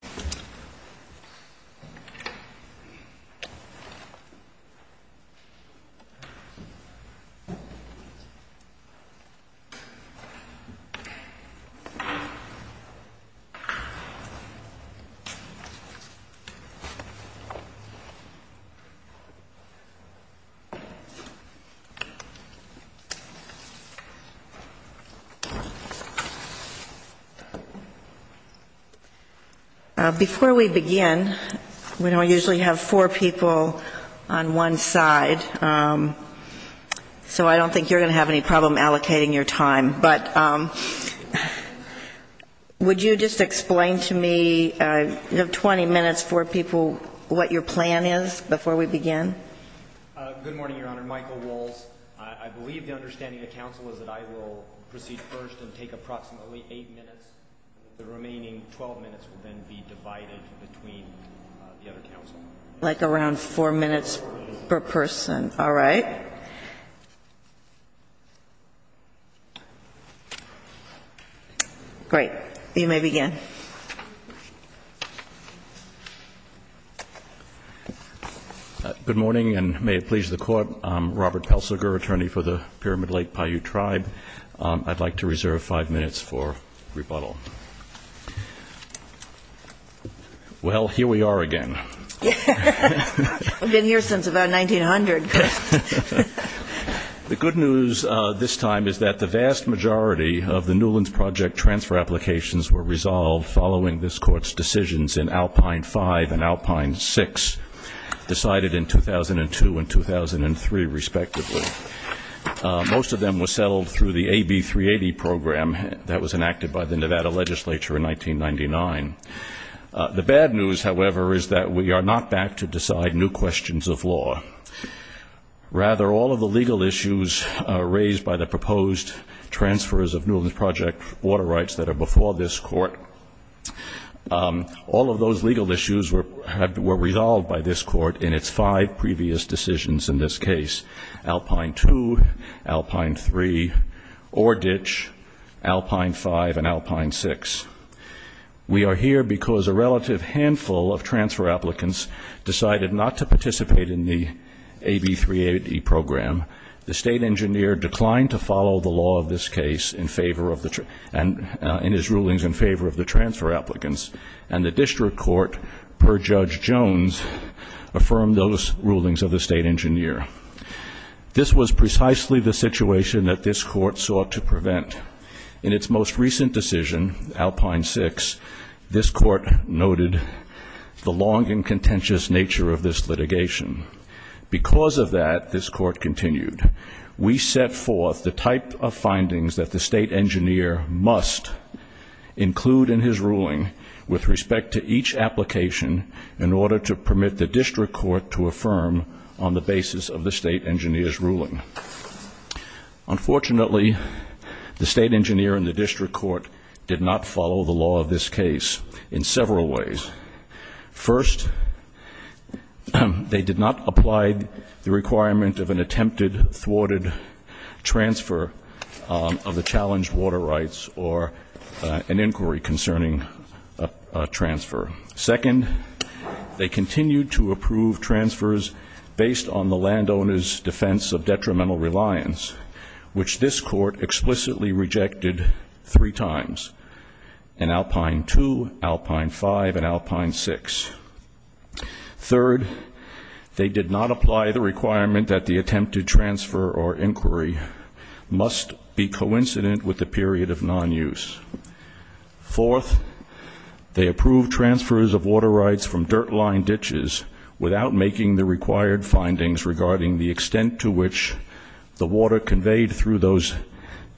The Lake Paiute National Park is a national park located in the Paiute Valley, North Carolina. Before we begin, we don't usually have four people on one side, so I don't think you're going to have any problem allocating your time. But would you just explain to me, you have 20 minutes, four people, what your plan is before we begin? Good morning, Your Honor. Michael Walsh. I believe the understanding of counsel is that I will proceed first and take approximately 8 minutes. The remaining 12 minutes will then be divided between the other counsel. Like around 4 minutes per person. All right. Great. You may begin. Good morning, and may it please the Court. I'm Robert Pelsiger, attorney for the Pyramid Lake Paiute Tribe. I'd like to reserve 5 minutes for rebuttal. Well, here we are again. We've been here since about 1900. The good news this time is that the vast majority of the Newlands Project transfer applications were resolved following this Court's decisions in Alpine 5 and Alpine 6, decided in 2002 and 2003 respectively. Most of them were settled through the AB 380 program that was enacted by the Nevada legislature in 1999. The bad news, however, is that we are not back to decide new questions of law. Rather, all of the legal issues raised by the proposed transfers of Newlands Project water rights that are before this Court, all of those legal issues were resolved by this Court in its five previous decisions in this case, Alpine 2, Alpine 3, Ore Ditch, Alpine 5, and Alpine 6. We are here because a relative handful of transfer applicants decided not to participate in the AB 380 program. The state engineer declined to follow the law of this case in his rulings in favor of the transfer applicants, and the district court, per Judge Jones, affirmed those rulings of the state engineer. This was precisely the situation that this Court sought to prevent. In its most recent decision, Alpine 6, this Court noted the long and contentious nature of this litigation. Because of that, this Court continued, we set forth the type of findings that the state engineer must include in his ruling with respect to each application in order to permit the district court to affirm on the basis of the state engineer's ruling. Unfortunately, the state engineer and the district court did not follow the law of this case in several ways. First, they did not apply the requirement of an attempted thwarted transfer of the challenged water rights or an inquiry concerning a transfer. Second, they continued to approve transfers based on the landowner's defense of detrimental reliance, which this Court explicitly rejected three times in Alpine 2, Alpine 5, and Alpine 6. Third, they did not apply the requirement that the attempted transfer or inquiry must be coincident with the period of non-use. Fourth, they approved transfers of water rights from dirt line ditches without making the required findings regarding the extent to which the water conveyed through those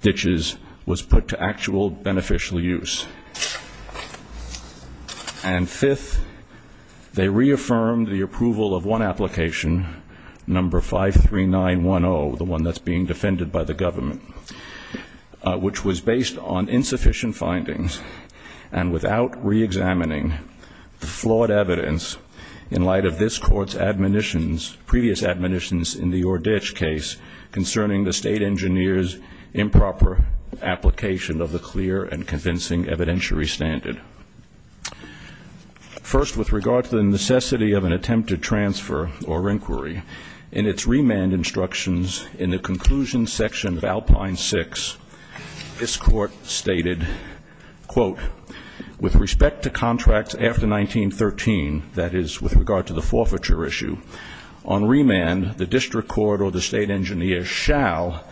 ditches was put to actual beneficial use. And fifth, they reaffirmed the approval of one application, number 53910, the one that's being defended by the government, which was based on insufficient findings and without reexamining the flawed evidence in light of this Court's previous admonitions in the Oreditch case concerning the state engineer's improper application of the clear and convincing evidentiary standard. First, with regard to the necessity of an attempted transfer or inquiry, in its remand instructions in the conclusion section of Alpine 6, this Court stated, quote, with respect to contracts after 1913, that is, with regard to the forfeiture issue, on remand the district court or the state engineer shall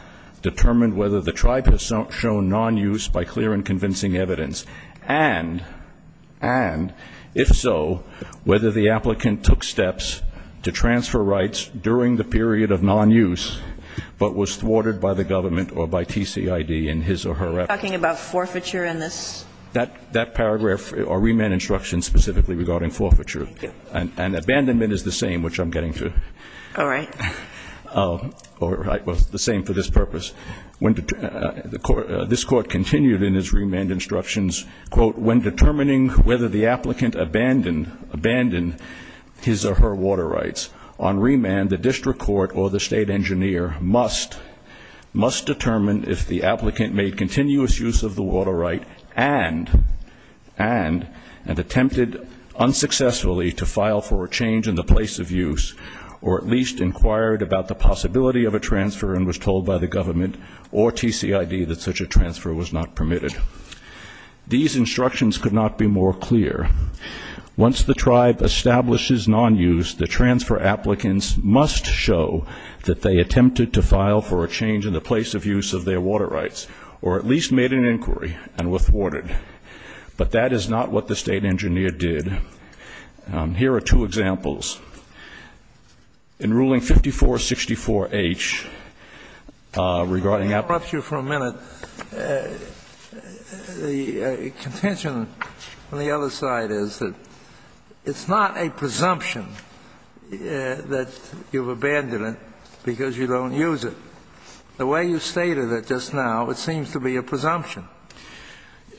determine whether the tribe has shown non-use by clear and convincing evidence, and if so, whether the applicant took steps to transfer rights during the period of non-use but was thwarted by the government or by TCID in his or her efforts. You're talking about forfeiture in this? That paragraph or remand instruction specifically regarding forfeiture. Thank you. And abandonment is the same, which I'm getting to. All right. All right. Well, the same for this purpose. This Court continued in its remand instructions, quote, when determining whether the applicant abandoned his or her water rights, on remand the district court or the state engineer must determine if the applicant made continuous use of the water right and attempted unsuccessfully to file for a change in the place of use or at least inquired about the possibility of a transfer and was told by the government or TCID that such a transfer was not permitted. These instructions could not be more clear. Once the tribe establishes non-use, the transfer applicants must show that they attempted to file for a change in the place of use of their water rights or at least made an inquiry and were thwarted. But that is not what the state engineer did. Here are two examples. In Ruling 5464H, regarding applicants. Let me interrupt you for a minute. The contention on the other side is that it's not a presumption that you've abandoned it because you don't use it. The way you stated it just now, it seems to be a presumption.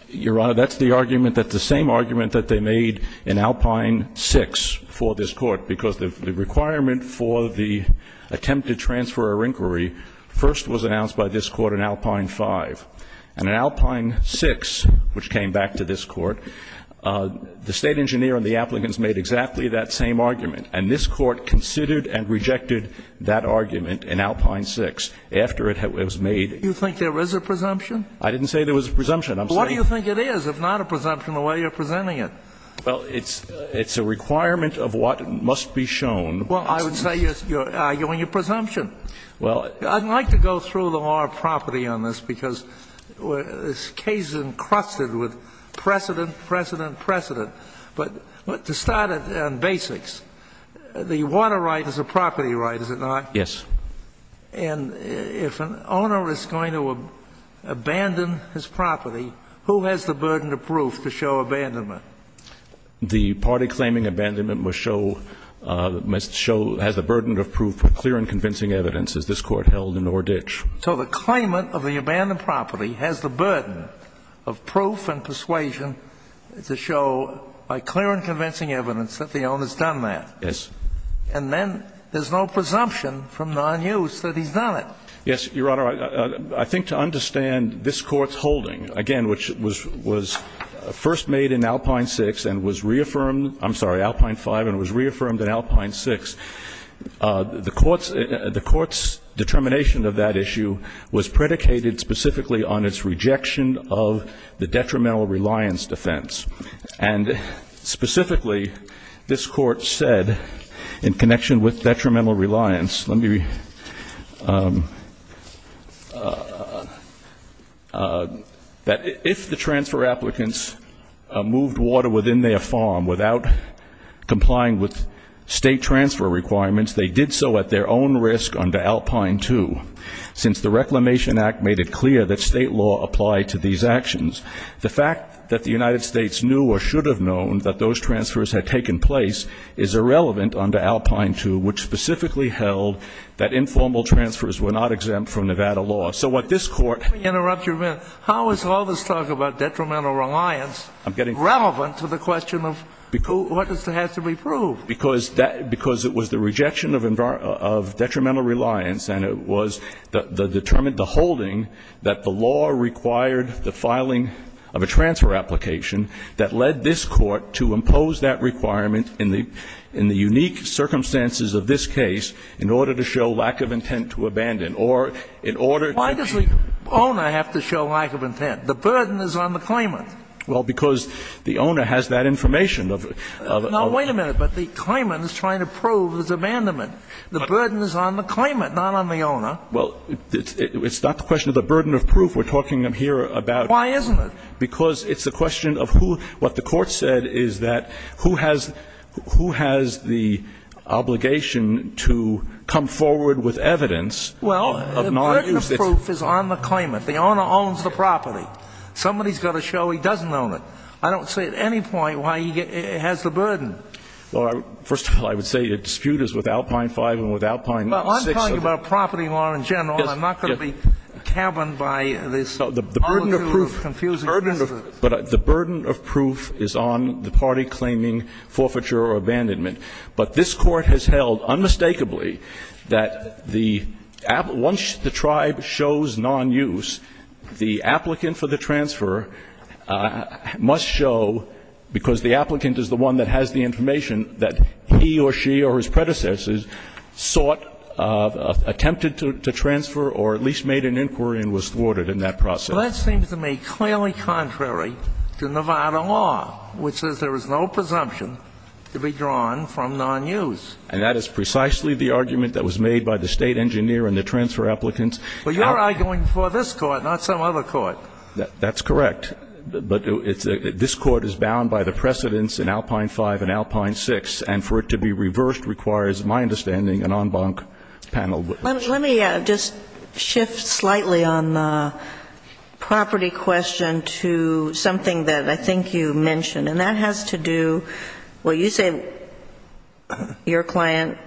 Your Honor, that's the argument that the same argument that they made in Alpine 6 for this Court, because the requirement for the attempted transfer or inquiry first was announced by this Court in Alpine 5. And in Alpine 6, which came back to this Court, the state engineer and the applicants made exactly that same argument. And this Court considered and rejected that argument in Alpine 6 after it was made. Do you think there is a presumption? I didn't say there was a presumption. I'm saying there is. Well, what do you think it is, if not a presumption, the way you're presenting it? Well, it's a requirement of what must be shown. Well, I would say you're arguing a presumption. Well, I'd like to go through the law of property on this, because this case is encrusted with precedent, precedent, precedent. But to start on basics, the water right is a property right, is it not? Yes. And if an owner is going to abandon his property, who has the burden of proof to show abandonment? The party claiming abandonment must show the burden of proof with clear and convincing evidence, as this Court held in Nordich. So the claimant of the abandoned property has the burden of proof and persuasion to show by clear and convincing evidence that the owner has done that. Yes. And then there's no presumption from nonuse that he's done it. Yes, Your Honor. I think to understand this Court's holding, again, which was first made in Alpine 6 and was reaffirmed, I'm sorry, Alpine 5, and was reaffirmed in Alpine 6, the Court's determination of that issue was predicated specifically on its rejection of the detrimental reliance defense. And specifically, this Court said, in connection with detrimental reliance, that if the transfer applicants moved water within their farm without complying with state transfer requirements, they did so at their own risk under Alpine 2. Since the Reclamation Act made it clear that state law applied to these actions, the fact that the United States knew or should have known that those transfers had taken place is irrelevant under Alpine 2, which specifically held that informal transfers were not exempt from Nevada law. So what this Court ---- Let me interrupt you a minute. How is all this talk about detrimental reliance relevant to the question of what has to be proved? Because it was the rejection of detrimental reliance, and it was the holding that the law required the filing of a transfer application that led this Court to impose that requirement in the unique circumstances of this case in order to show lack of intent to abandon, or in order to ---- Why does the owner have to show lack of intent? The burden is on the claimant. Well, because the owner has that information of ---- Now, wait a minute. But the claimant is trying to prove his abandonment. The burden is on the claimant, not on the owner. Well, it's not the question of the burden of proof we're talking here about. Why isn't it? Because it's a question of who ---- what the Court said is that who has the obligation to come forward with evidence of not ---- Well, the burden of proof is on the claimant. The owner owns the property. Somebody's got to show he doesn't own it. I don't see at any point why he has the burden. Well, first of all, I would say the dispute is with Alpine 5 and with Alpine 6. Well, I'm talking about property law in general. I'm not going to be cabined by this ---- The burden of proof is on the party claiming forfeiture or abandonment. But this Court has held unmistakably that the ---- once the tribe shows nonuse, the applicant for the transfer must show, because the applicant is the one that has the information that he or she or his predecessors sought, attempted to transfer or at least made an inquiry and was thwarted in that process. Well, that seems to me clearly contrary to Nevada law, which says there is no presumption to be drawn from nonuse. And that is precisely the argument that was made by the State engineer and the transfer applicants. Well, you're arguing for this Court, not some other Court. That's correct. But this Court is bound by the precedents in Alpine 5 and Alpine 6. And for it to be reversed requires, my understanding, an en banc panel. Let me just shift slightly on the property question to something that I think you mentioned. And that has to do ---- well, you say your client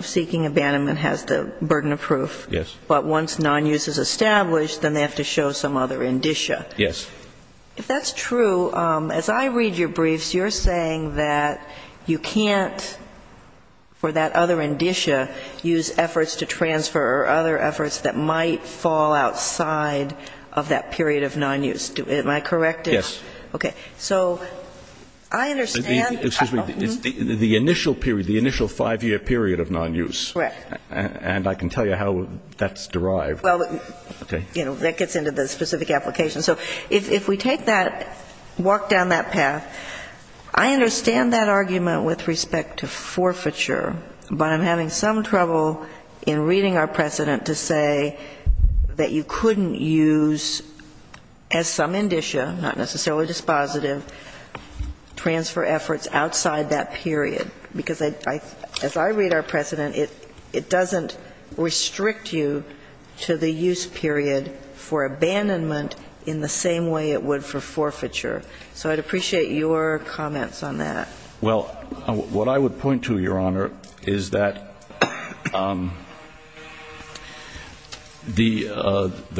seeking abandonment has the burden of proof. Yes. But once nonuse is established, then they have to show some other indicia. Yes. If that's true, as I read your briefs, you're saying that you can't, for that other indicia, use efforts to transfer or other efforts that might fall outside of that period of nonuse. Am I correct? Yes. Okay. So I understand ---- Excuse me. The initial period, the initial five-year period of nonuse. Correct. And I can tell you how that's derived. Well, that gets into the specific application. So if we take that, walk down that path, I understand that argument with respect to forfeiture. But I'm having some trouble in reading our precedent to say that you couldn't use as some indicia, not necessarily dispositive, transfer efforts outside that period. Because as I read our precedent, it doesn't restrict you to the use period for abandonment in the same way it would for forfeiture. So I'd appreciate your comments on that. Well, what I would point to, Your Honor, is that the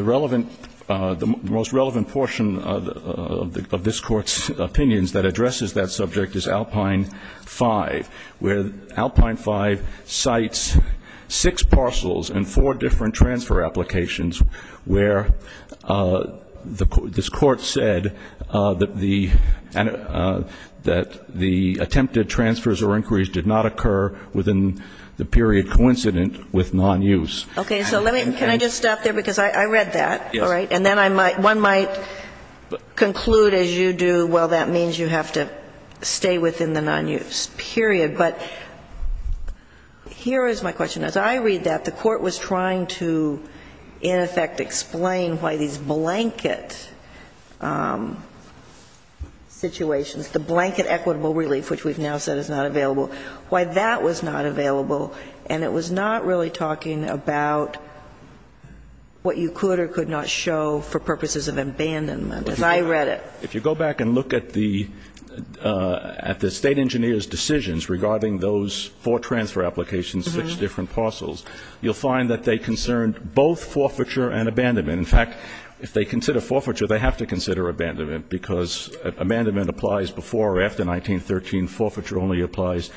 relevant ---- the most relevant portion of this Court's opinions that addresses that subject is Alpine 5, where this Court said that the attempted transfers or inquiries did not occur within the period coincident with nonuse. Okay. So let me ---- can I just stop there? Because I read that, all right? Yes. And then I might ---- one might conclude, as you do, well, that means you have to stay within the nonuse period. But here is my question. As I read that, the Court was trying to, in effect, explain why these blanket situations, the blanket equitable relief, which we've now said is not available, why that was not available. And it was not really talking about what you could or could not show for purposes of abandonment, as I read it. If you go back and look at the State engineer's decisions regarding those four transfer applications, six different parcels, you'll find that they concerned both forfeiture and abandonment. In fact, if they consider forfeiture, they have to consider abandonment, because abandonment applies before or after 1913. Forfeiture only applies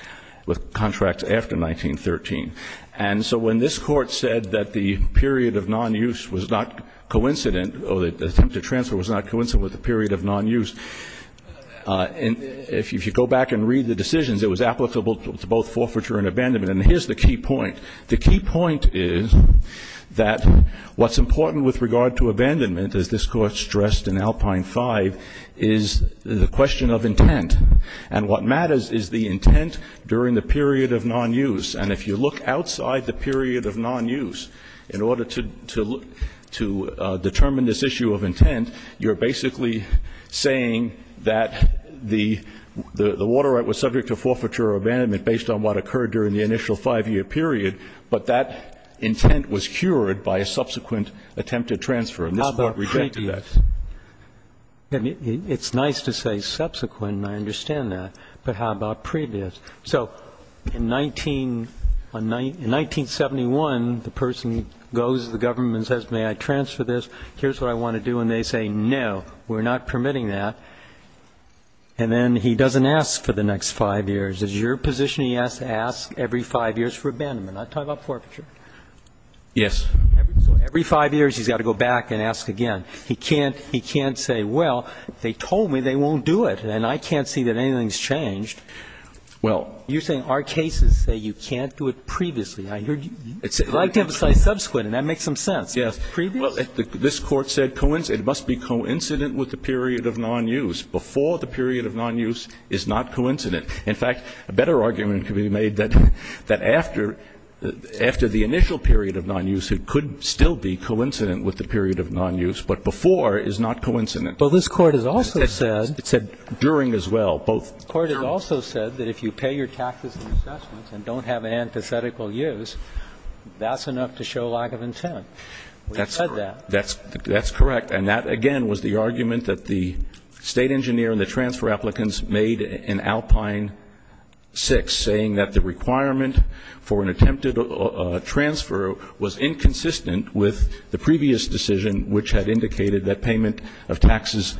with contracts after 1913. And so when this Court said that the period of nonuse was not coincident or the attempted transfer was not coincident with the period of nonuse, if you go back and read the And here's the key point. The key point is that what's important with regard to abandonment, as this Court stressed in Alpine 5, is the question of intent. And what matters is the intent during the period of nonuse. And if you look outside the period of nonuse, in order to determine this issue of intent, you're basically saying that the water right was subject to forfeiture or abandonment based on what occurred during the initial five-year period, but that intent was cured by a subsequent attempted transfer. And this Court rejected that. How about previous? It's nice to say subsequent, and I understand that. But how about previous? So in 1971, the person goes to the government and says, may I transfer this? Here's what I want to do. And they say, no, we're not permitting that. And then he doesn't ask for the next five years. Is your position he has to ask every five years for abandonment? I'm talking about forfeiture. Yes. So every five years he's got to go back and ask again. He can't say, well, they told me they won't do it, and I can't see that anything's changed. Well, you're saying our cases say you can't do it previously. I'd like to emphasize subsequent, and that makes some sense. Previous? Well, this Court said it must be coincident with the period of nonuse. Before the period of nonuse is not coincident. In fact, a better argument could be made that after the initial period of nonuse, it could still be coincident with the period of nonuse, but before is not coincident. But this Court has also said that if you pay your taxes and assessments and don't have an antithetical use, that's enough to show lack of intent. We said that. That's correct. And that, again, was the argument that the State engineer and the transfer applicants made in Alpine 6, saying that the requirement for an attempted transfer was inconsistent with the previous decision, which had indicated that payment of taxes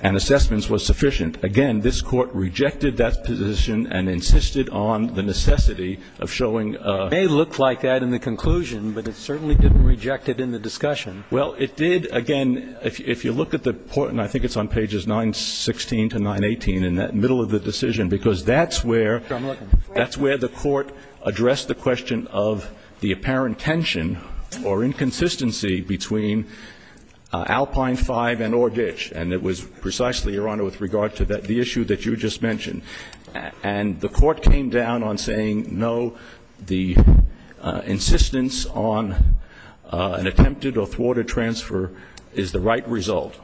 and assessments was sufficient. Again, this Court rejected that position and insisted on the necessity of showing It may look like that in the conclusion, but it certainly didn't reject it in the discussion. Well, it did. Again, if you look at the point, and I think it's on pages 916 to 918, in the middle of the decision, because that's where the Court addressed the question of the apparent tension or inconsistency between Alpine 5 and Orgich. And it was precisely, Your Honor, with regard to the issue that you just mentioned. And the Court came down on saying, no, the insistence on an attempted or thwarted transfer is the right result.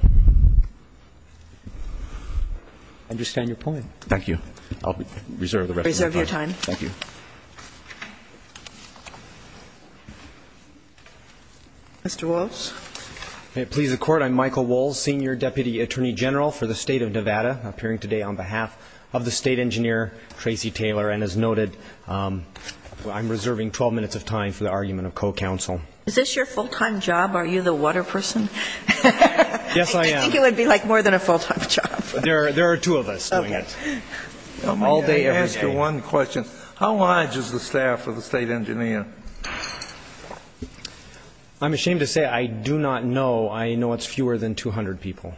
I understand your point. Thank you. I'll reserve the rest of my time. Reserve your time. Thank you. Mr. Walz. May it please the Court, I'm Michael Walz, Senior Deputy Attorney General for the State Engineer, Tracy Taylor, and as noted, I'm reserving 12 minutes of time for the argument of co-counsel. Is this your full-time job? Are you the water person? Yes, I am. I didn't think it would be like more than a full-time job. There are two of us doing it. Okay. All day, every day. Let me ask you one question. How large is the staff of the State Engineer? I'm ashamed to say I do not know. I know it's fewer than 200 people.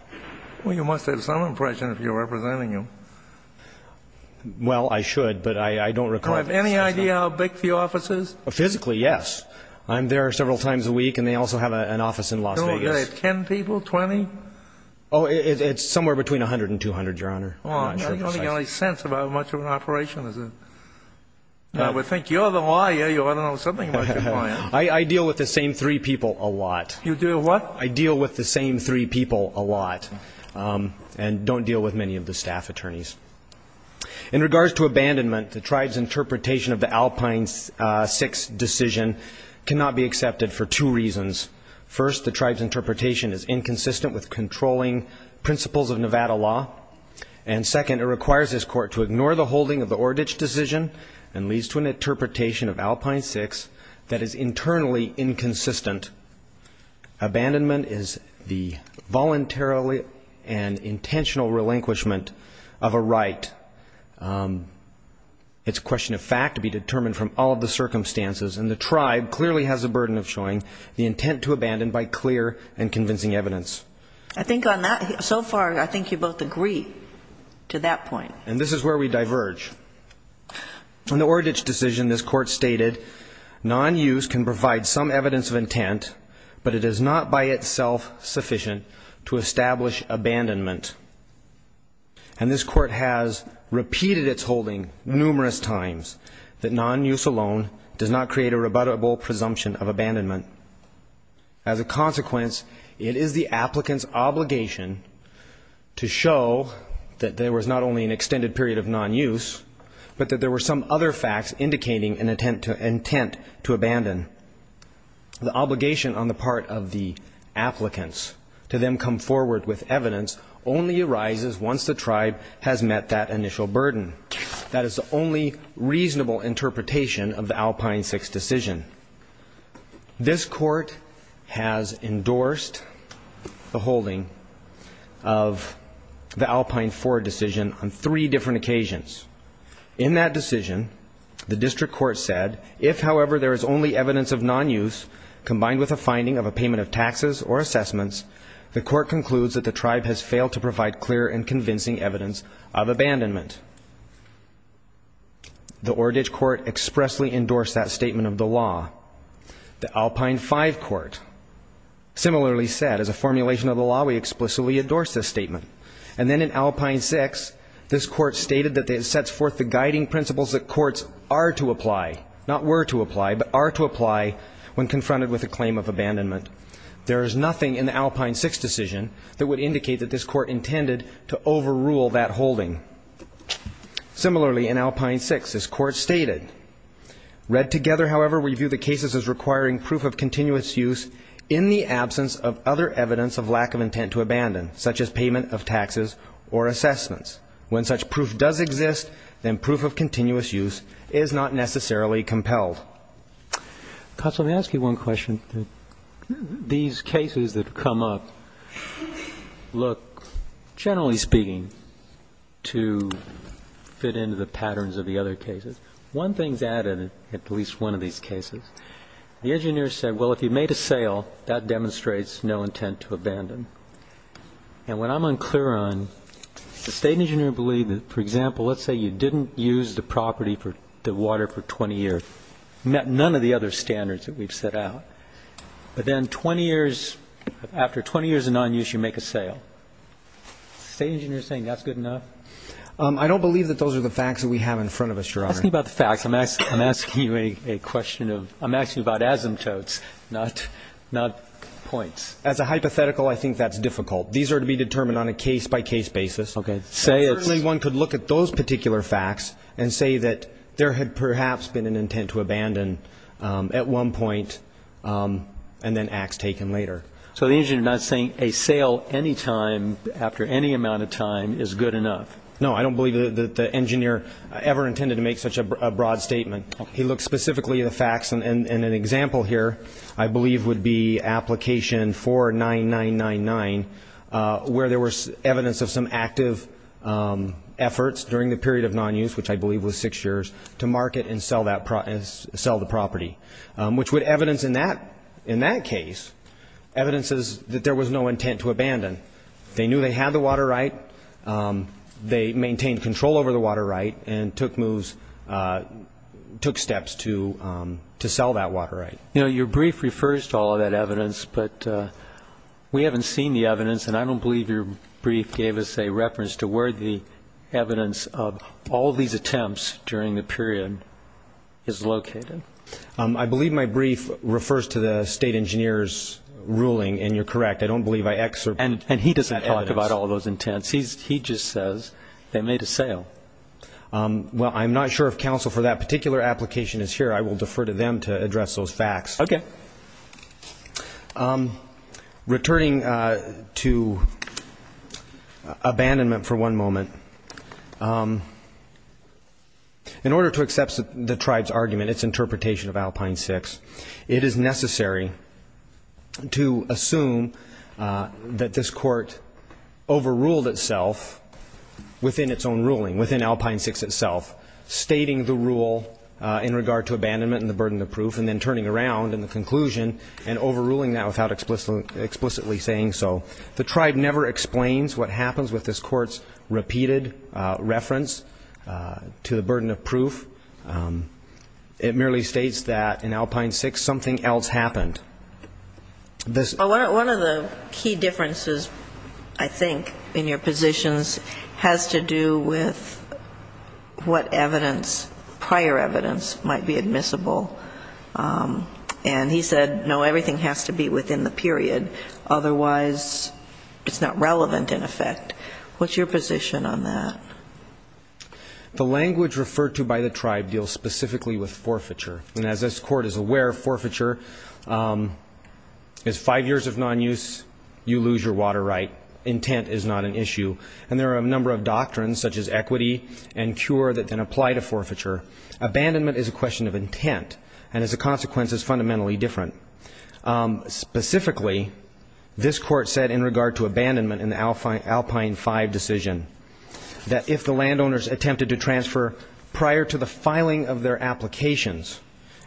Well, you must have some impression if you're representing them. Well, I should, but I don't recall. Do you have any idea how big the office is? Physically, yes. I'm there several times a week, and they also have an office in Las Vegas. Do they have 10 people, 20? Oh, it's somewhere between 100 and 200, Your Honor. I don't think I have any sense about how much of an operation this is. I would think you're the lawyer, you ought to know something about your client. I deal with the same three people a lot. You deal with what? I deal with the same three people a lot and don't deal with many of the staff attorneys. In regards to abandonment, the tribe's interpretation of the Alpine 6 decision cannot be accepted for two reasons. First, the tribe's interpretation is inconsistent with controlling principles of Nevada law, and second, it requires this court to ignore the holding of the Ordich decision and leads to an interpretation of Alpine 6 that is internally inconsistent. Abandonment is the voluntarily and intentional relinquishment of a right. It's a question of fact to be determined from all of the circumstances, and the tribe clearly has a burden of showing the intent to abandon by clear and convincing evidence. I think on that, so far, I think you both agree to that point. And this is where we diverge. In the Ordich decision, this court stated, non-use can provide some evidence of intent, but it is not by itself sufficient to establish abandonment. And this court has repeated its holding numerous times that non-use alone does not create a rebuttable presumption of abandonment. As a consequence, it is the applicant's obligation to show that there was not only an extended period of non-use, but that there were some other facts indicating an intent to abandon. The obligation on the part of the applicants to then come forward with evidence only arises once the tribe has met that initial burden. That is the only reasonable interpretation of the Alpine 6 decision. This court has endorsed the holding of the Alpine 4 decision on three different occasions. In that decision, the district court said, if, however, there is only evidence of non-use combined with a finding of a payment of taxes or assessments, the court concludes that the tribe has failed to provide clear and convincing evidence of abandonment. The Ordich court expressly endorsed that statement of the law. The Alpine 5 court similarly said, as a formulation of the law, we explicitly endorse this statement. And then in Alpine 6, this court stated that it sets forth the guiding principles that courts are to apply, not were to apply, but are to apply when confronted with a claim of abandonment. There is nothing in the Alpine 6 decision that would indicate that this court intended to overrule that holding. Similarly, in Alpine 6, this court stated, read together, however, we view the cases as requiring proof of continuous use in the absence of other evidence of lack of intent to abandon, such as payment of taxes or assessments. When such proof does exist, then proof of continuous use is not necessarily compelled. Well, counsel, let me ask you one question. These cases that have come up look, generally speaking, to fit into the patterns of the other cases. One thing is added in at least one of these cases. The engineer said, well, if you made a sale, that demonstrates no intent to abandon. And what I'm unclear on, the state engineer believed that, for example, let's say you didn't use the property for the water for 20 years. None of the other standards that we've set out. But then 20 years, after 20 years of nonuse, you make a sale. The state engineer is saying that's good enough? I don't believe that those are the facts that we have in front of us, Your Honor. Ask me about the facts. I'm asking you a question of asymptotes, not points. As a hypothetical, I think that's difficult. These are to be determined on a case-by-case basis. One could look at those particular facts and say that there had perhaps been an intent to abandon at one point, and then acts taken later. So the engineer is not saying a sale any time, after any amount of time, is good enough? No, I don't believe that the engineer ever intended to make such a broad statement. He looked specifically at the facts. And an example here, I believe, would be application 49999, where there was evidence of some active efforts during the period of nonuse, which I believe was six years, to market and sell the property, which would evidence in that case evidences that there was no intent to abandon. They knew they had the water right. They maintained control over the water right and took moves, took steps to sell that water right. You know, your brief refers to all of that evidence, but we haven't seen the evidence, and I don't believe your brief gave us a reference to where the evidence of all these attempts during the period is located. I believe my brief refers to the state engineer's ruling, and you're correct. And he doesn't talk about all those intents. He just says they made a sale. Well, I'm not sure if counsel for that particular application is here. I will defer to them to address those facts. Okay. Returning to abandonment for one moment, in order to accept the tribe's argument, its interpretation of Alpine 6, it is necessary to assume that this court overruled itself within its own ruling, within Alpine 6 itself, stating the rule in regard to abandonment and the burden of proof and then turning around in the conclusion and overruling that without explicitly saying so. The tribe never explains what happens with this court's repeated reference to the burden of proof. It merely states that in Alpine 6 something else happened. One of the key differences, I think, in your positions has to do with what evidence, prior evidence, might be admissible. And he said, no, everything has to be within the period, otherwise it's not relevant in effect. What's your position on that? The language referred to by the tribe deals specifically with forfeiture. And as this court is aware, forfeiture is five years of nonuse, you lose your water right, intent is not an issue. And there are a number of doctrines, such as equity and cure, that then apply to forfeiture. Abandonment is a question of intent. And as a consequence, it's fundamentally different. Specifically, this court said in regard to abandonment in the Alpine 5 decision, that if the landowners attempted to transfer prior to the filing of their applications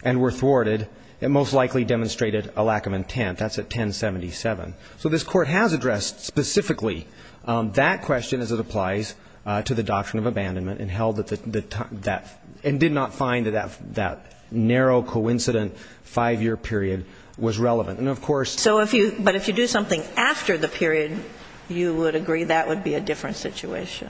and were thwarted, it most likely demonstrated a lack of intent. That's at 1077. So this court has addressed specifically that question as it applies to the doctrine of abandonment and did not find that that narrow, coincident five-year period was relevant. And, of course ‑‑ So if you ‑‑ but if you do something after the period, you would agree that would be a different situation.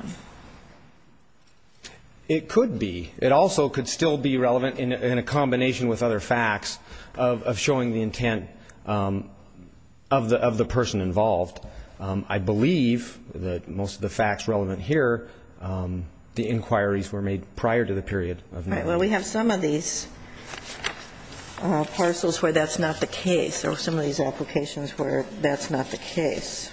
It could be. It also could still be relevant in a combination with other facts of showing the intent of the person involved. I believe that most of the facts relevant here, the inquiries were made prior to the period. Right. Well, we have some of these parcels where that's not the case or some of these applications where that's not the case.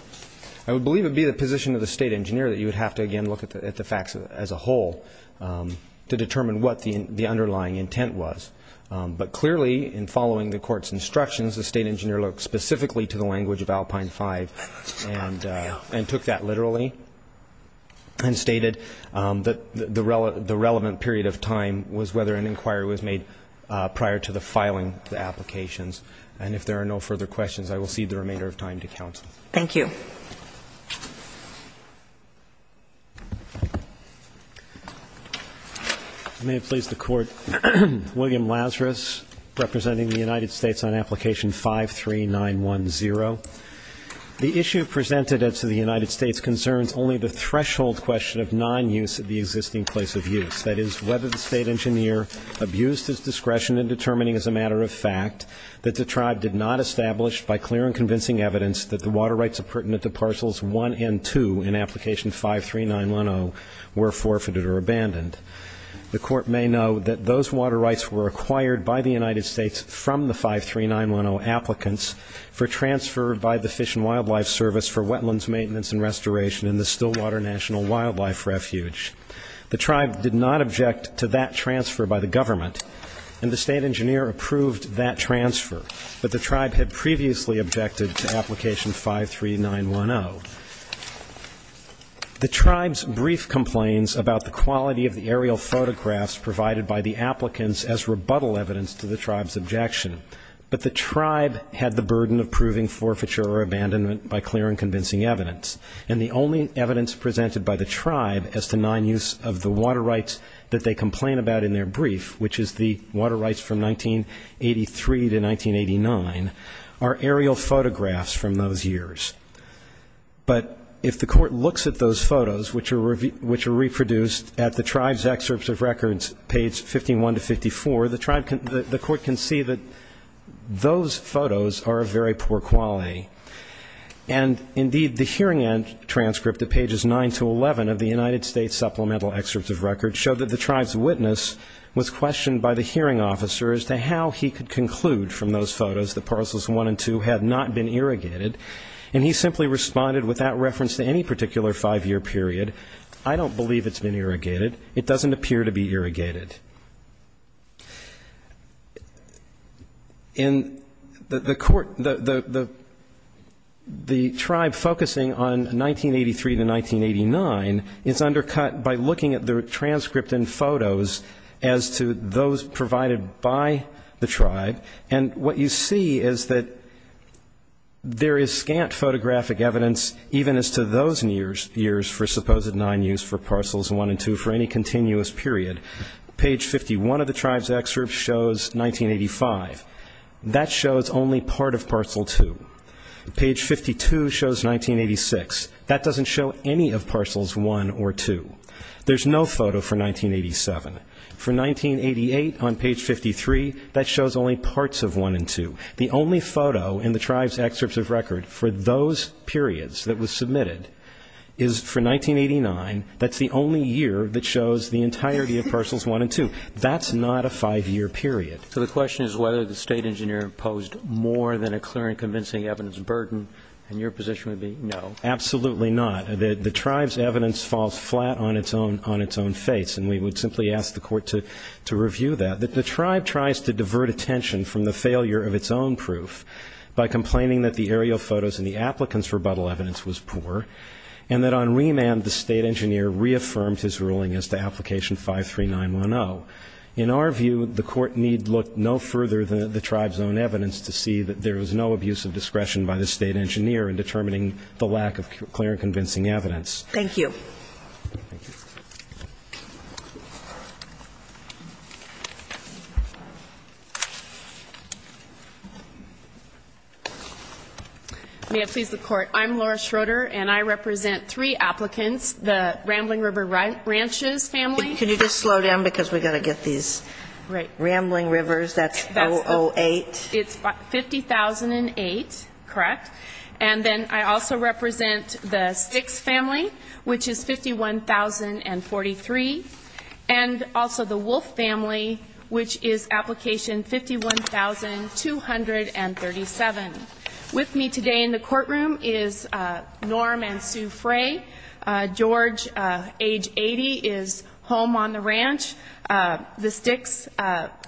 I would believe it would be the position of the state engineer that you would have to, again, look at the facts as a whole to determine what the underlying intent was. But clearly, in following the court's instructions, the state engineer looked specifically to the language of Alpine 5 and took that literally and stated that the relevant period of time was whether an inquiry was made prior to the filing of the applications. And if there are no further questions, I will cede the remainder of time to counsel. Thank you. Thank you. May it please the Court, William Lazarus representing the United States on Application 53910. The issue presented to the United States concerns only the threshold question of non-use of the existing place of use, that is, whether the state engineer abused his discretion in determining as a matter of fact that the tribe did not establish by clear and convincing evidence that the water rights pertinent to Parcels 1 and 2 in Application 53910 were forfeited or abandoned. The Court may know that those water rights were acquired by the United States from the 53910 applicants for transfer by the Fish and Wildlife Service for wetlands maintenance and restoration in the Stillwater National Wildlife Refuge. The tribe did not object to that transfer by the government, and the state engineer approved that transfer, but the tribe had previously objected to Application 53910. The tribe's brief complains about the quality of the aerial photographs provided by the applicants as rebuttal evidence to the tribe's objection, but the tribe had the burden of proving forfeiture or abandonment by clear and convincing evidence. And the only evidence presented by the tribe as to non-use of the water rights that they complain about in their brief, which is the water rights from 1983 to 1989, are aerial photographs from those years. But if the court looks at those photos, which are reproduced at the tribe's excerpts of records, page 51 to 54, the court can see that those photos are of very poor quality. And, indeed, the hearing end transcript at pages 9 to 11 of the United States supplemental excerpts of records show that the tribe's witness was questioned by the hearing officer as to how he could conclude from those photos that Parcels 1 and 2 had not been irrigated, and he simply responded with that reference to any particular five-year period, I don't believe it's been irrigated, it doesn't appear to be irrigated. And the court, the tribe focusing on 1983 to 1989 is undercut by looking at the transcript of those photographs and photos as to those provided by the tribe, and what you see is that there is scant photographic evidence, even as to those years for supposed non-use for Parcels 1 and 2 for any continuous period. Page 51 of the tribe's excerpt shows 1985, that shows only part of Parcel 2. Page 52 shows 1986, that doesn't show any of Parcels 1 or 2. There's no photo for 1987. For 1988 on page 53, that shows only parts of 1 and 2. The only photo in the tribe's excerpts of record for those periods that was submitted is for 1989, that's the only year that shows the entirety of Parcels 1 and 2. That's not a five-year period. So the question is whether the State Engineer posed more than a clear and convincing evidence burden, and your position would be no. Absolutely not. The tribe's evidence falls flat on its own face, and we would simply ask the court to review that. The tribe tries to divert attention from the failure of its own proof by complaining that the aerial photos and the applicant's rebuttal evidence was poor, and that on remand the State Engineer reaffirmed his ruling as to Application 53910. In our view, the court need look no further than the tribe's own evidence to see that there was no abuse of discretion by the State Engineer in determining the lack of clear and convincing evidence. Thank you. May it please the Court. I'm Laura Schroeder, and I represent three applicants, the Rambling River Ranches family. Can you just slow down, because we've got to get these Rambling Rivers, that's 008. It's 50008, correct. And then I also represent the Sticks family, which is 51043, and also the Wolf family, which is Application 51237. With me today in the courtroom is Norm and Sue Frey. George, age 80, is home on the ranch. The Sticks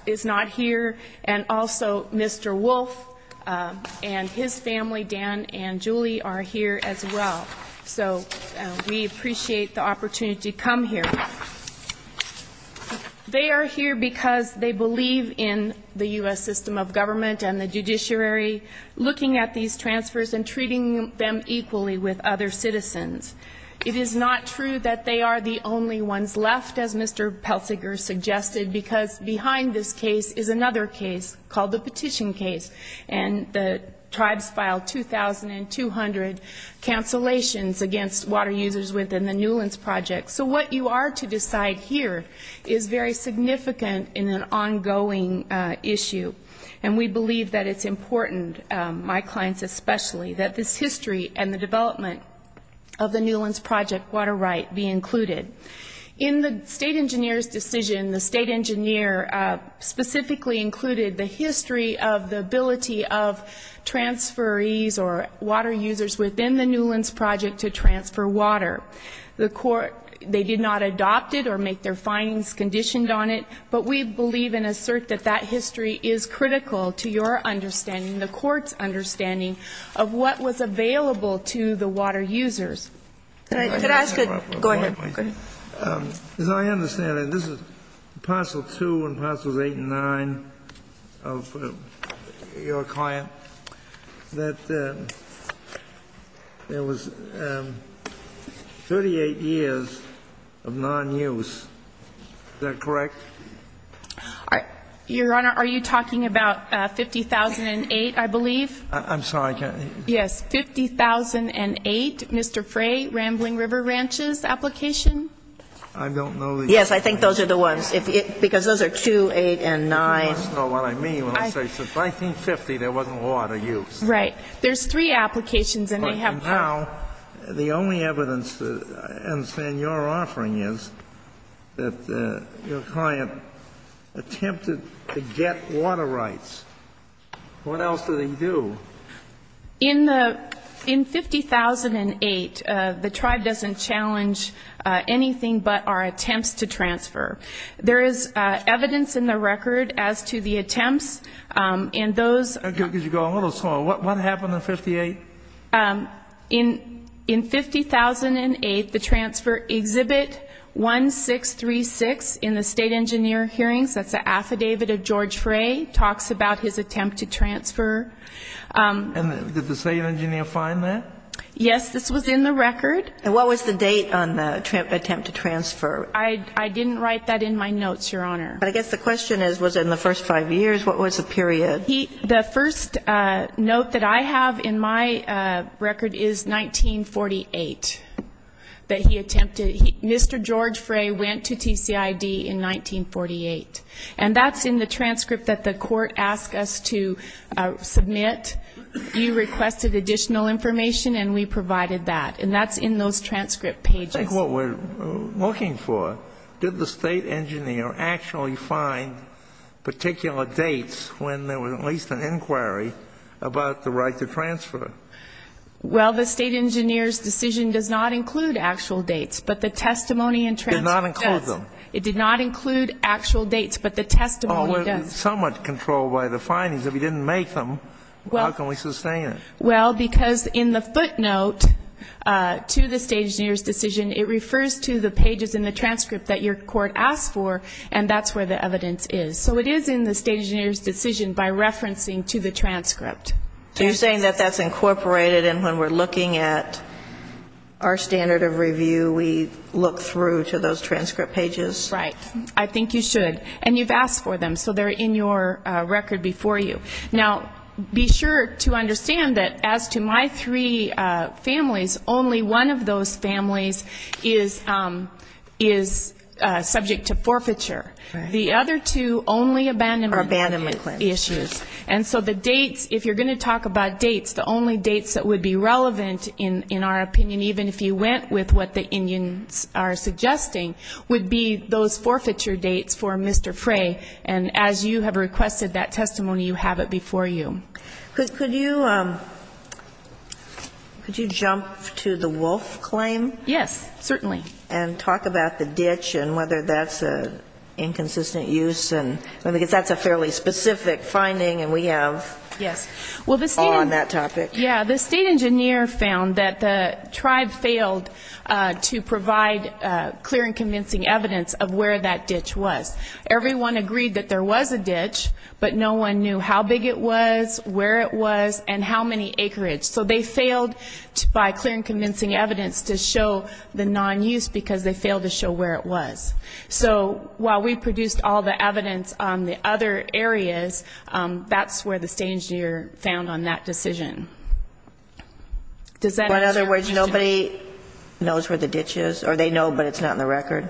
is not here, and also Mr. Wolf and his family, Dan and Julie, are here as well. So we appreciate the opportunity to come here. They are here because they believe in the U.S. system of government and the judiciary, looking at these transfers and treating them equally with other citizens. It is not true that they are the only ones left, as Mr. Pelsiger suggested, because behind this case is another case called the Petition Case, and the tribes filed 2,200 cancellations against water users within the Newlands Project. So what you are to decide here is very significant in an ongoing issue, and we believe that it's important, my clients especially, that this history and the development of the Newlands Project water right be included. In the State Engineer's decision, the State Engineer specifically included the history of the ability of transferees or water users within the Newlands Project to transfer water. The Court, they did not adopt it or make their findings conditioned on it, but we believe and assert that that history is critical to your understanding, the Court's understanding, of what was available to the water users. Could I ask a question? Go ahead. As I understand it, this is Parcel 2 and Parcels 8 and 9 of your client, that there was 38 years of nonuse. Is that correct? Your Honor, are you talking about 50,008, I believe? I'm sorry. Yes. 50,008, Mr. Frey, Rambling River Ranches application? I don't know. Yes, I think those are the ones, because those are 2, 8, and 9. I don't know what I mean when I say since 1950 there wasn't water use. Right. There's 3 applications and they have 4. And now the only evidence that I understand your offering is that your client attempted to get water rights. What else did he do? In 50,008, the tribe doesn't challenge anything but our attempts to transfer. There is evidence in the record as to the attempts in those. Could you go a little slower? What happened in 58? In 50,008, the transfer exhibit 1636 in the state engineer hearings, that's the affidavit of George Frey, talks about his attempt to transfer. And did the state engineer find that? Yes, this was in the record. And what was the date on the attempt to transfer? I didn't write that in my notes, Your Honor. But I guess the question is, was it in the first 5 years? What was the period? The first note that I have in my record is 1948, that he attempted. Mr. George Frey went to TCID in 1948. And that's in the transcript that the court asked us to submit. You requested additional information and we provided that. And that's in those transcript pages. I think what we're looking for, did the state engineer actually find particular dates when there was at least an inquiry about the right to transfer? Well, the state engineer's decision does not include actual dates. But the testimony and transcript does. It did not include them. It did not include actual dates, but the testimony does. We're somewhat controlled by the findings. If he didn't make them, how can we sustain it? Well, because in the footnote to the state engineer's decision, it refers to the pages in the transcript that your court asked for, and that's where the evidence is. So it is in the state engineer's decision by referencing to the transcript. So you're saying that that's incorporated, and when we're looking at our standard of review, we look through to those transcript pages? Right. I think you should. And you've asked for them, so they're in your record before you. Now, be sure to understand that as to my three families, only one of those families is subject to forfeiture. The other two only abandonment issues. And so the dates, if you're going to talk about dates, the only dates that would be relevant in our opinion, even if you went with what the Indians are suggesting, would be those forfeiture dates for Mr. Frey. And as you have requested that testimony, you have it before you. Could you jump to the wolf claim? Yes, certainly. And talk about the ditch and whether that's an inconsistent use, because that's a fairly specific finding, and we have awe on that topic. Yes. Well, the state engineer found that the tribe failed to provide clear and convincing evidence of where that ditch was. Everyone agreed that there was a ditch, but no one knew how big it was, where it was, and how many acreage. So they failed by clear and convincing evidence to show the non-use, because they failed to show where it was. So while we produced all the evidence on the other areas, that's where the state engineer found on that decision. In other words, nobody knows where the ditch is, or they know but it's not in the record?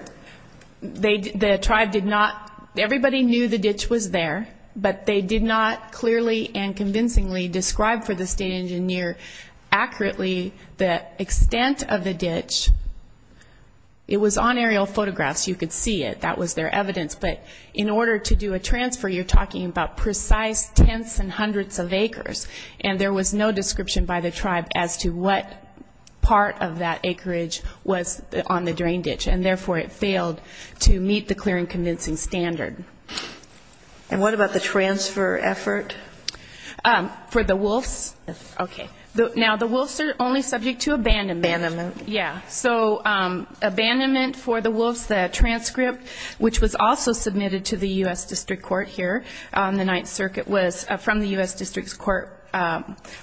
No, the tribe did not. Everybody knew the ditch was there, but they did not clearly and convincingly describe for the state engineer accurately the extent of the ditch. It was on aerial photographs. You could see it. That was their evidence. But in order to do a transfer, you're talking about precise tenths and hundreds of acres, and there was no description by the tribe as to what part of that acreage was on the drain ditch. And therefore, it failed to meet the clear and convincing standard. And what about the transfer effort? For the Wolffs? Yes. Okay. Now, the Wolffs are only subject to abandonment. Abandonment. Yeah. So abandonment for the Wolffs, the transcript, which was also submitted to the U.S. District Court here on the Ninth Circuit, from the U.S. District Court,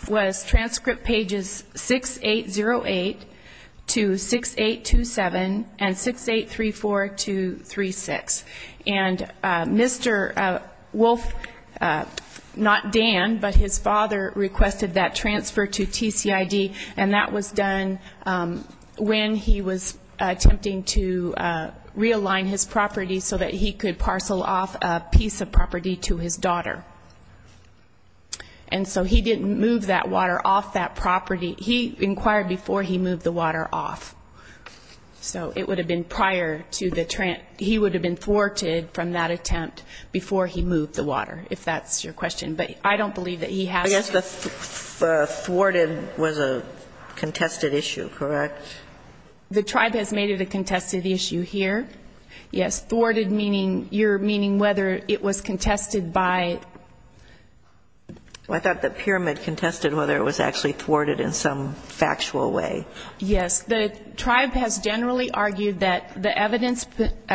was transcript pages 6808 to 6827 and 6834 to 36. And Mr. Wolff, not Dan, but his father, requested that transfer to TCID, and that was done when he was attempting to realign his property so that he could parcel off a piece of property to his daughter. And so he didn't move that water off that property. He inquired before he moved the water off. So it would have been prior to the he would have been thwarted from that attempt before he moved the water, if that's your question. But I don't believe that he has to. I guess the thwarted was a contested issue, correct? The tribe has made it a contested issue here. Yes. Thwarted meaning whether it was contested by. I thought the pyramid contested whether it was actually thwarted in some factual way. Yes. The tribe has generally argued that the evidence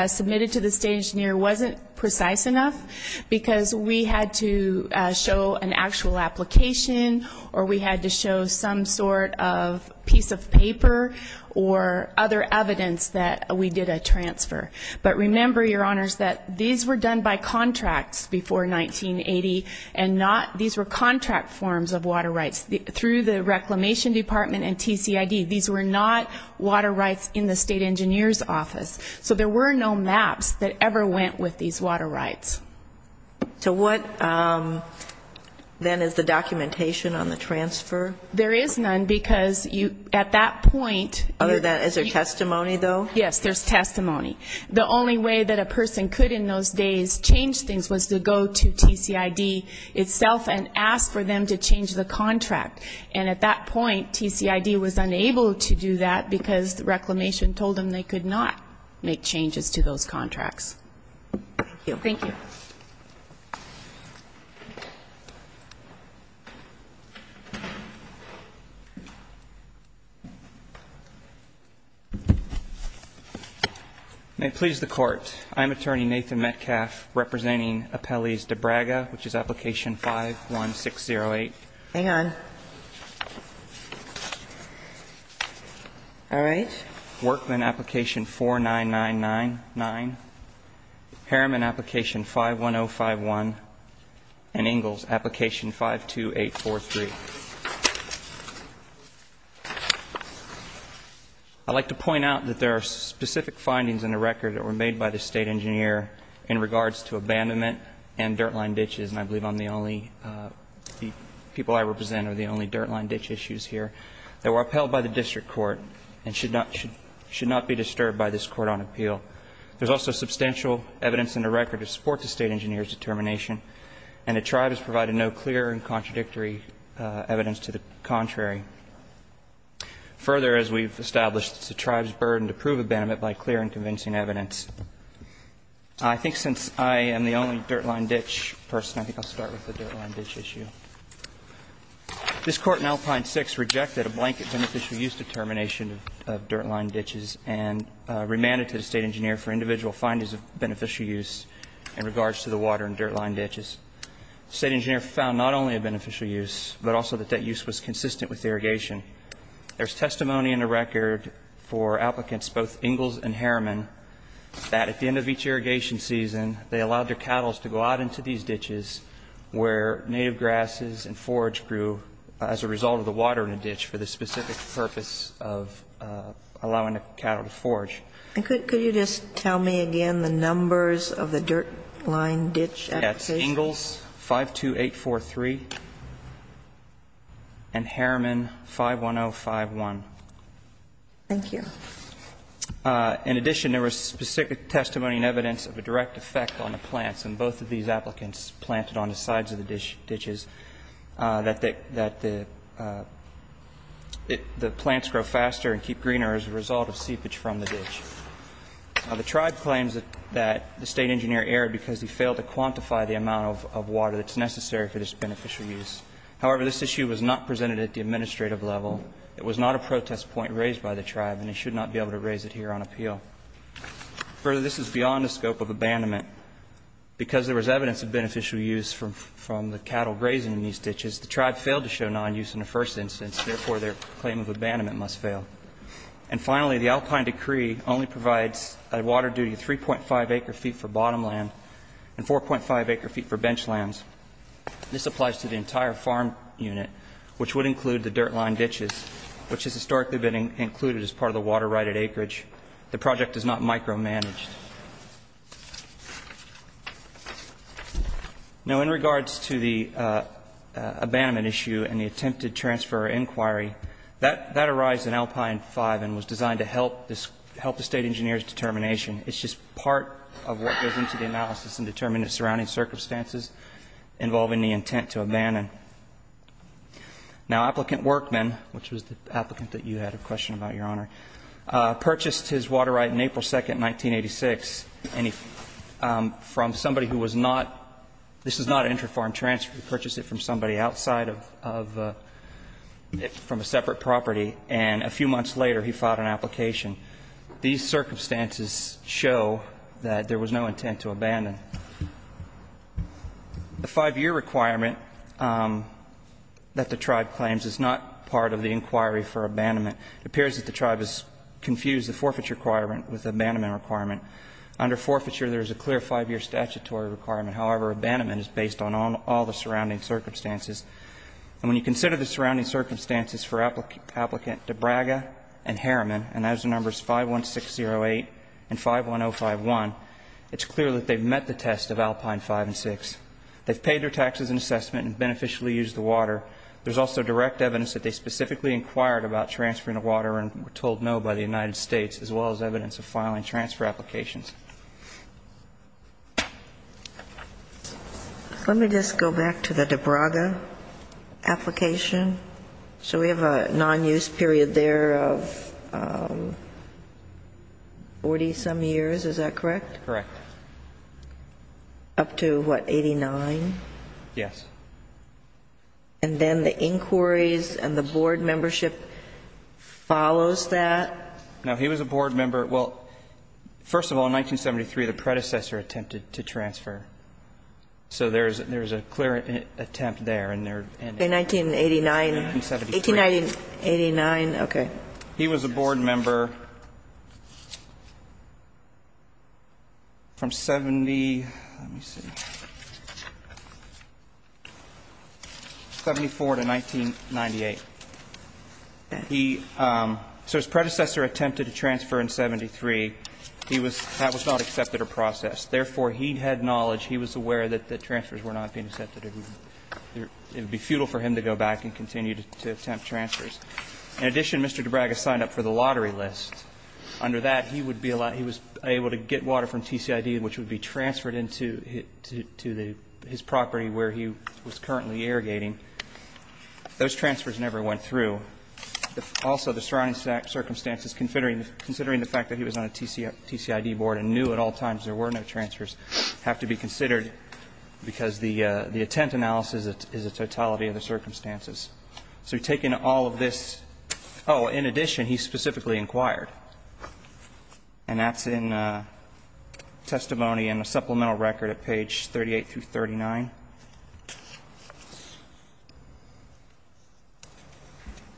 submitted to the State Engineer wasn't precise enough because we had to show an actual application or we had to show some sort of piece of paper or other evidence that we did a transfer. But remember, Your Honors, that these were done by contracts before 1980, and these were contract forms of water rights. Through the Reclamation Department and TCID, these were not water rights in the State Engineer's office. So there were no maps that ever went with these water rights. So what then is the documentation on the transfer? There is none because at that point. Other than is there testimony, though? Yes, there's testimony. The only way that a person could in those days change things was to go to TCID itself and ask for them to change the contract. And at that point, TCID was unable to do that because the Reclamation told them they could not make changes to those contracts. Thank you. Thank you. May it please the Court. I am Attorney Nathan Metcalf representing Appellees DeBraga, which is Application 51608. Hang on. All right. Workman, Application 49999. Harriman, Application 51051. And Ingalls, Application 52843. I'd like to point out that there are specific findings in the record that were made by the State Engineer in regards to abandonment and dirt line ditches, and I believe I'm the only, the people I represent are the only dirt line ditch issues here, that were upheld by the district court and should not be disturbed by this Court on appeal. There's also substantial evidence in the record to support the State Engineer's determination, and the tribe has provided no clear and contradictory evidence to the contrary. Further, as we've established, it's the tribe's burden to prove abandonment by clear and convincing evidence. I think since I am the only dirt line ditch person, I think I'll start with the dirt line ditch issue. This Court in Alpine 6 rejected a blanket beneficial use determination of dirt line ditches and remanded to the State Engineer for individual findings of beneficial use in regards to the water and dirt line ditches. The State Engineer found not only a beneficial use, but also that that use was consistent with irrigation. There's testimony in the record for applicants, both Ingalls and Harriman, that at the end of each irrigation season, they allowed their cattle to go out into these ditches where native grasses and forage grew as a result of the water in a ditch for the specific purpose of allowing the cattle to forage. And could you just tell me again the numbers of the dirt line ditch applications? Yes. Ingalls, 52843, and Harriman, 51051. Thank you. In addition, there was specific testimony and evidence of a direct effect on the plants, and both of these applicants planted on the sides of the ditches, that the plants grow faster and keep greener as a result of seepage from the ditch. The tribe claims that the State Engineer erred because he failed to quantify the amount of water that's necessary for this beneficial use. However, this issue was not presented at the administrative level. It was not a protest point raised by the tribe, and it should not be able to raise it here on appeal. Further, this is beyond the scope of abandonment. Because there was evidence of beneficial use from the cattle grazing in these ditches, the tribe failed to show nonuse in the first instance. Therefore, their claim of abandonment must fail. And finally, the Alpine Decree only provides a water duty of 3.5 acre-feet for bottom land and 4.5 acre-feet for bench lands. This applies to the entire farm unit, which would include the dirt line ditches, which has historically been included as part of the water-righted acreage. The project is not micromanaged. Now, in regards to the abandonment issue and the attempted transfer inquiry, that arised in Alpine 5 and was designed to help the State Engineer's determination. It's just part of what goes into the analysis and determining the surrounding circumstances involving the intent to abandon. Now, applicant Workman, which was the applicant that you had a question about, Your Honor, purchased his water right in April 2nd, 1986. And he, from somebody who was not, this was not an intra-farm transfer. He purchased it from somebody outside of, from a separate property. And a few months later, he filed an application. These circumstances show that there was no intent to abandon. The five-year requirement that the tribe claims is not part of the inquiry for abandonment. It appears that the tribe has confused the forfeiture requirement with the abandonment requirement. Under forfeiture, there is a clear five-year statutory requirement. However, abandonment is based on all the surrounding circumstances. And when you consider the surrounding circumstances for applicant DeBraga and Harriman, and those are numbers 51608 and 51051, it's clear that they've met the test of Alpine 5 and 6. They've paid their taxes and assessment and beneficially used the water. There's also direct evidence that they specifically inquired about transferring the water and were told no by the United States, as well as evidence of filing transfer applications. Let me just go back to the DeBraga application. So we have a non-use period there of 40-some years, is that correct? Correct. Up to, what, 89? Yes. And then the inquiries and the board membership follows that? No. He was a board member. Well, first of all, in 1973, the predecessor attempted to transfer. So there's a clear attempt there. In 1989? In 1973. In 1989. Okay. He was a board member from 70, let me see. 74 to 1998. He so his predecessor attempted to transfer in 73. He was that was not accepted or processed. Therefore, he had knowledge. He was aware that the transfers were not being accepted. It would be futile for him to go back and continue to attempt transfers. In addition, Mr. DeBraga signed up for the lottery list. Under that, he would be able to get water from TCID, which would be transferred into his property where he was currently irrigating. Those transfers never went through. Also, the surrounding circumstances, considering the fact that he was on a TCID board and knew at all times there were no transfers, have to be considered because the attempt analysis is a totality of the circumstances. So taking all of this, oh, in addition, he specifically inquired. And that's in testimony in the supplemental record at page 38 through 39.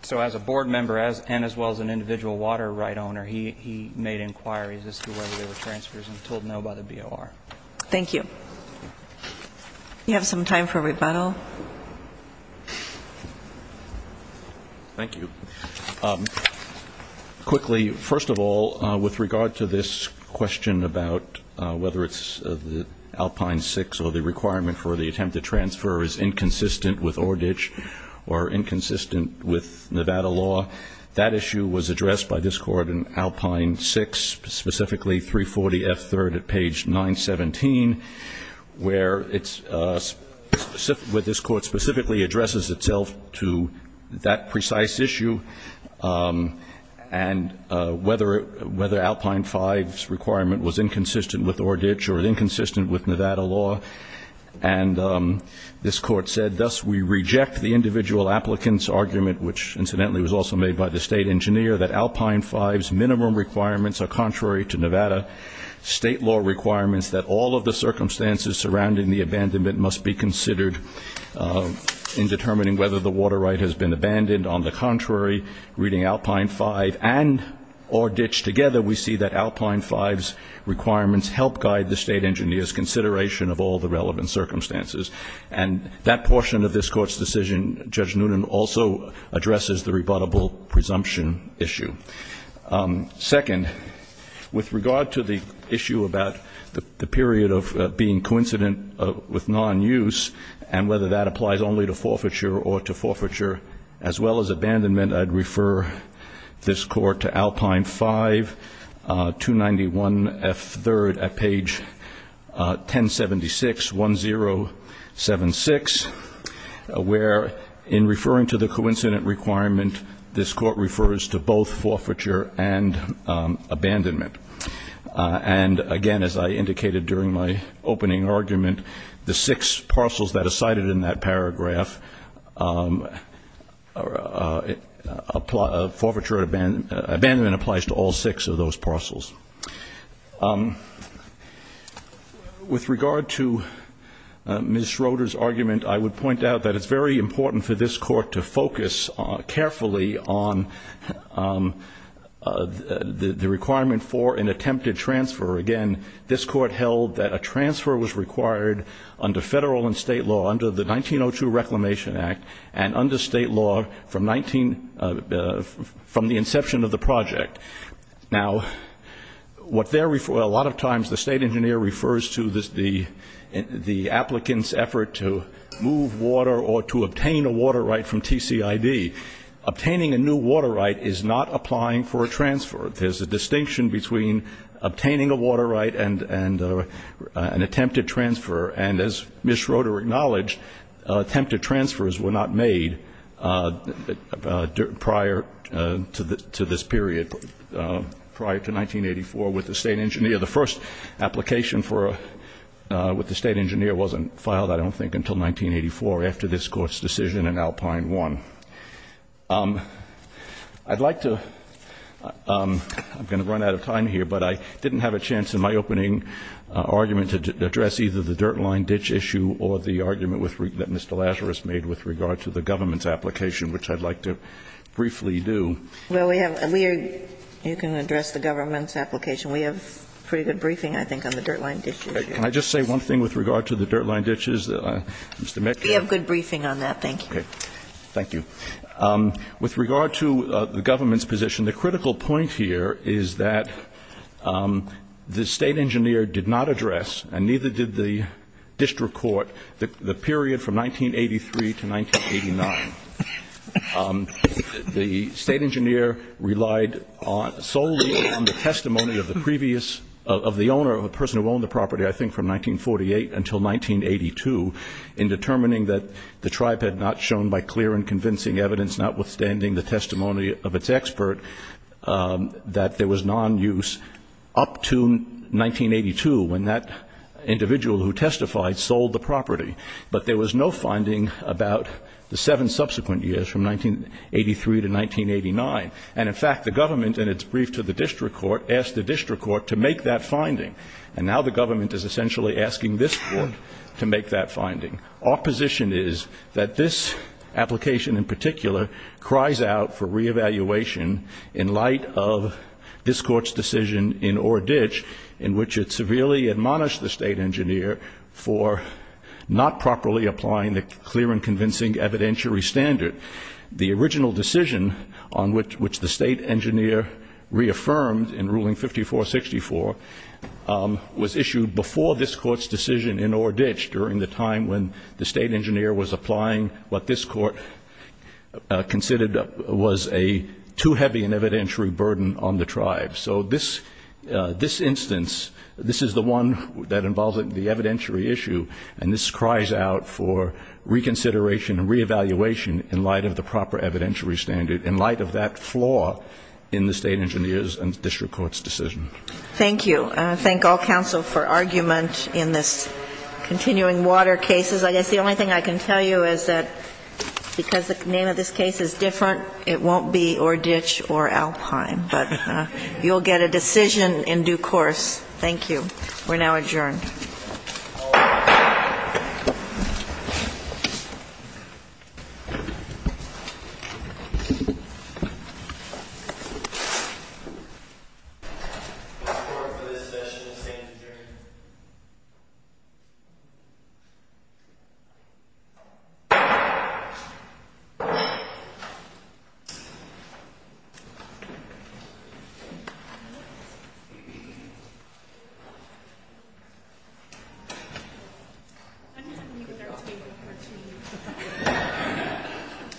So as a board member and as well as an individual water right owner, he made inquiries as to whether there were transfers and was told no by the BOR. Thank you. You have some time for rebuttal. Thank you. Quickly, first of all, with regard to this question about whether it's Alpine 6 or the requirement for the attempt to transfer is inconsistent with ORDICH or inconsistent with Nevada law, that issue was addressed by this court in Alpine 6, specifically 340F3 at page 917, where this court specifically addresses itself to that precise issue and whether Alpine 5's requirement was inconsistent with ORDICH or inconsistent with Nevada law. And this court said, thus we reject the individual applicant's argument, which incidentally was also made by the state engineer, that Alpine 5's minimum requirements are contrary to Nevada state law requirements, that all of the circumstances surrounding the abandonment must be considered in determining whether the water right has been abandoned. On the contrary, reading Alpine 5 and ORDICH together, we see that Alpine 5's requirements help guide the state engineer's consideration of all the relevant circumstances. And that portion of this court's decision, Judge Noonan, also addresses the rebuttable presumption issue. Second, with regard to the issue about the period of being coincident with non-use and whether that applies only to forfeiture or to forfeiture as well as abandonment, I'd refer this court to Alpine 5, 291F3 at page 1076, 1076, where in referring to the coincident requirement, this court refers to both forfeiture and abandonment. And, again, as I indicated during my opening argument, the six parcels that are cited in that paragraph, forfeiture and abandonment applies to all six of those parcels. With regard to Ms. Schroeder's argument, I would point out that it's very important for this court to focus carefully on the requirement for an attempted transfer. Again, this court held that a transfer was required under federal and state law under the 1902 Reclamation Act and under state law from the inception of the project. Now, a lot of times the state engineer refers to the applicant's effort to move water or to obtain a water right from TCID. Obtaining a new water right is not applying for a transfer. There's a distinction between obtaining a water right and an attempted transfer, and as Ms. Schroeder acknowledged, attempted transfers were not made prior to this period, prior to 1984 with the state engineer. The first application with the state engineer wasn't filed, I don't think, until 1984 after this court's decision and Alpine won. I'd like to ‑‑ I'm going to run out of time here, but I didn't have a chance in my opening argument to address either the dirt line ditch issue or the argument that Mr. Lazarus made with regard to the government's application, which I'd like to briefly do. Well, we have ‑‑ you can address the government's application. We have pretty good briefing, I think, on the dirt line ditch issue. Can I just say one thing with regard to the dirt line ditches? We have good briefing on that. Thank you. Thank you. With regard to the government's position, the critical point here is that the state engineer did not address, and neither did the district court, the period from 1983 to 1989. The state engineer relied solely on the testimony of the previous ‑‑ of the owner, of the person who owned the property, I think, from 1948 until 1982 in determining that the tribe had not shown by clear and convincing evidence, notwithstanding the testimony of its expert, that there was nonuse up to 1982, when that individual who testified sold the property. But there was no finding about the seven subsequent years from 1983 to 1989. And, in fact, the government, in its brief to the district court, asked the district court to make that finding. And now the government is essentially asking this court to make that finding. Our position is that this application, in particular, cries out for reevaluation in light of this court's decision in Orr Ditch, in which it severely admonished the state engineer for not properly applying the clear and convincing evidentiary standard. The original decision on which the state engineer reaffirmed in ruling 5464 was issued before this court's decision in Orr Ditch, during the time when the state engineer was applying what this court considered was a too heavy an evidentiary burden on the tribe. So this instance, this is the one that involves the evidentiary issue, and this cries out for reconsideration and reevaluation in light of the proper evidentiary standard, in light of that flaw in the state engineer's and district court's decision. Thank you. Thank all counsel for argument in this continuing water cases. I guess the only thing I can tell you is that because the name of this case is different, it won't be Orr Ditch or Alpine. But you'll get a decision in due course. Thank you. We're now adjourned. All rise. This court for this session will stand adjourned. I'm just going to leave it there.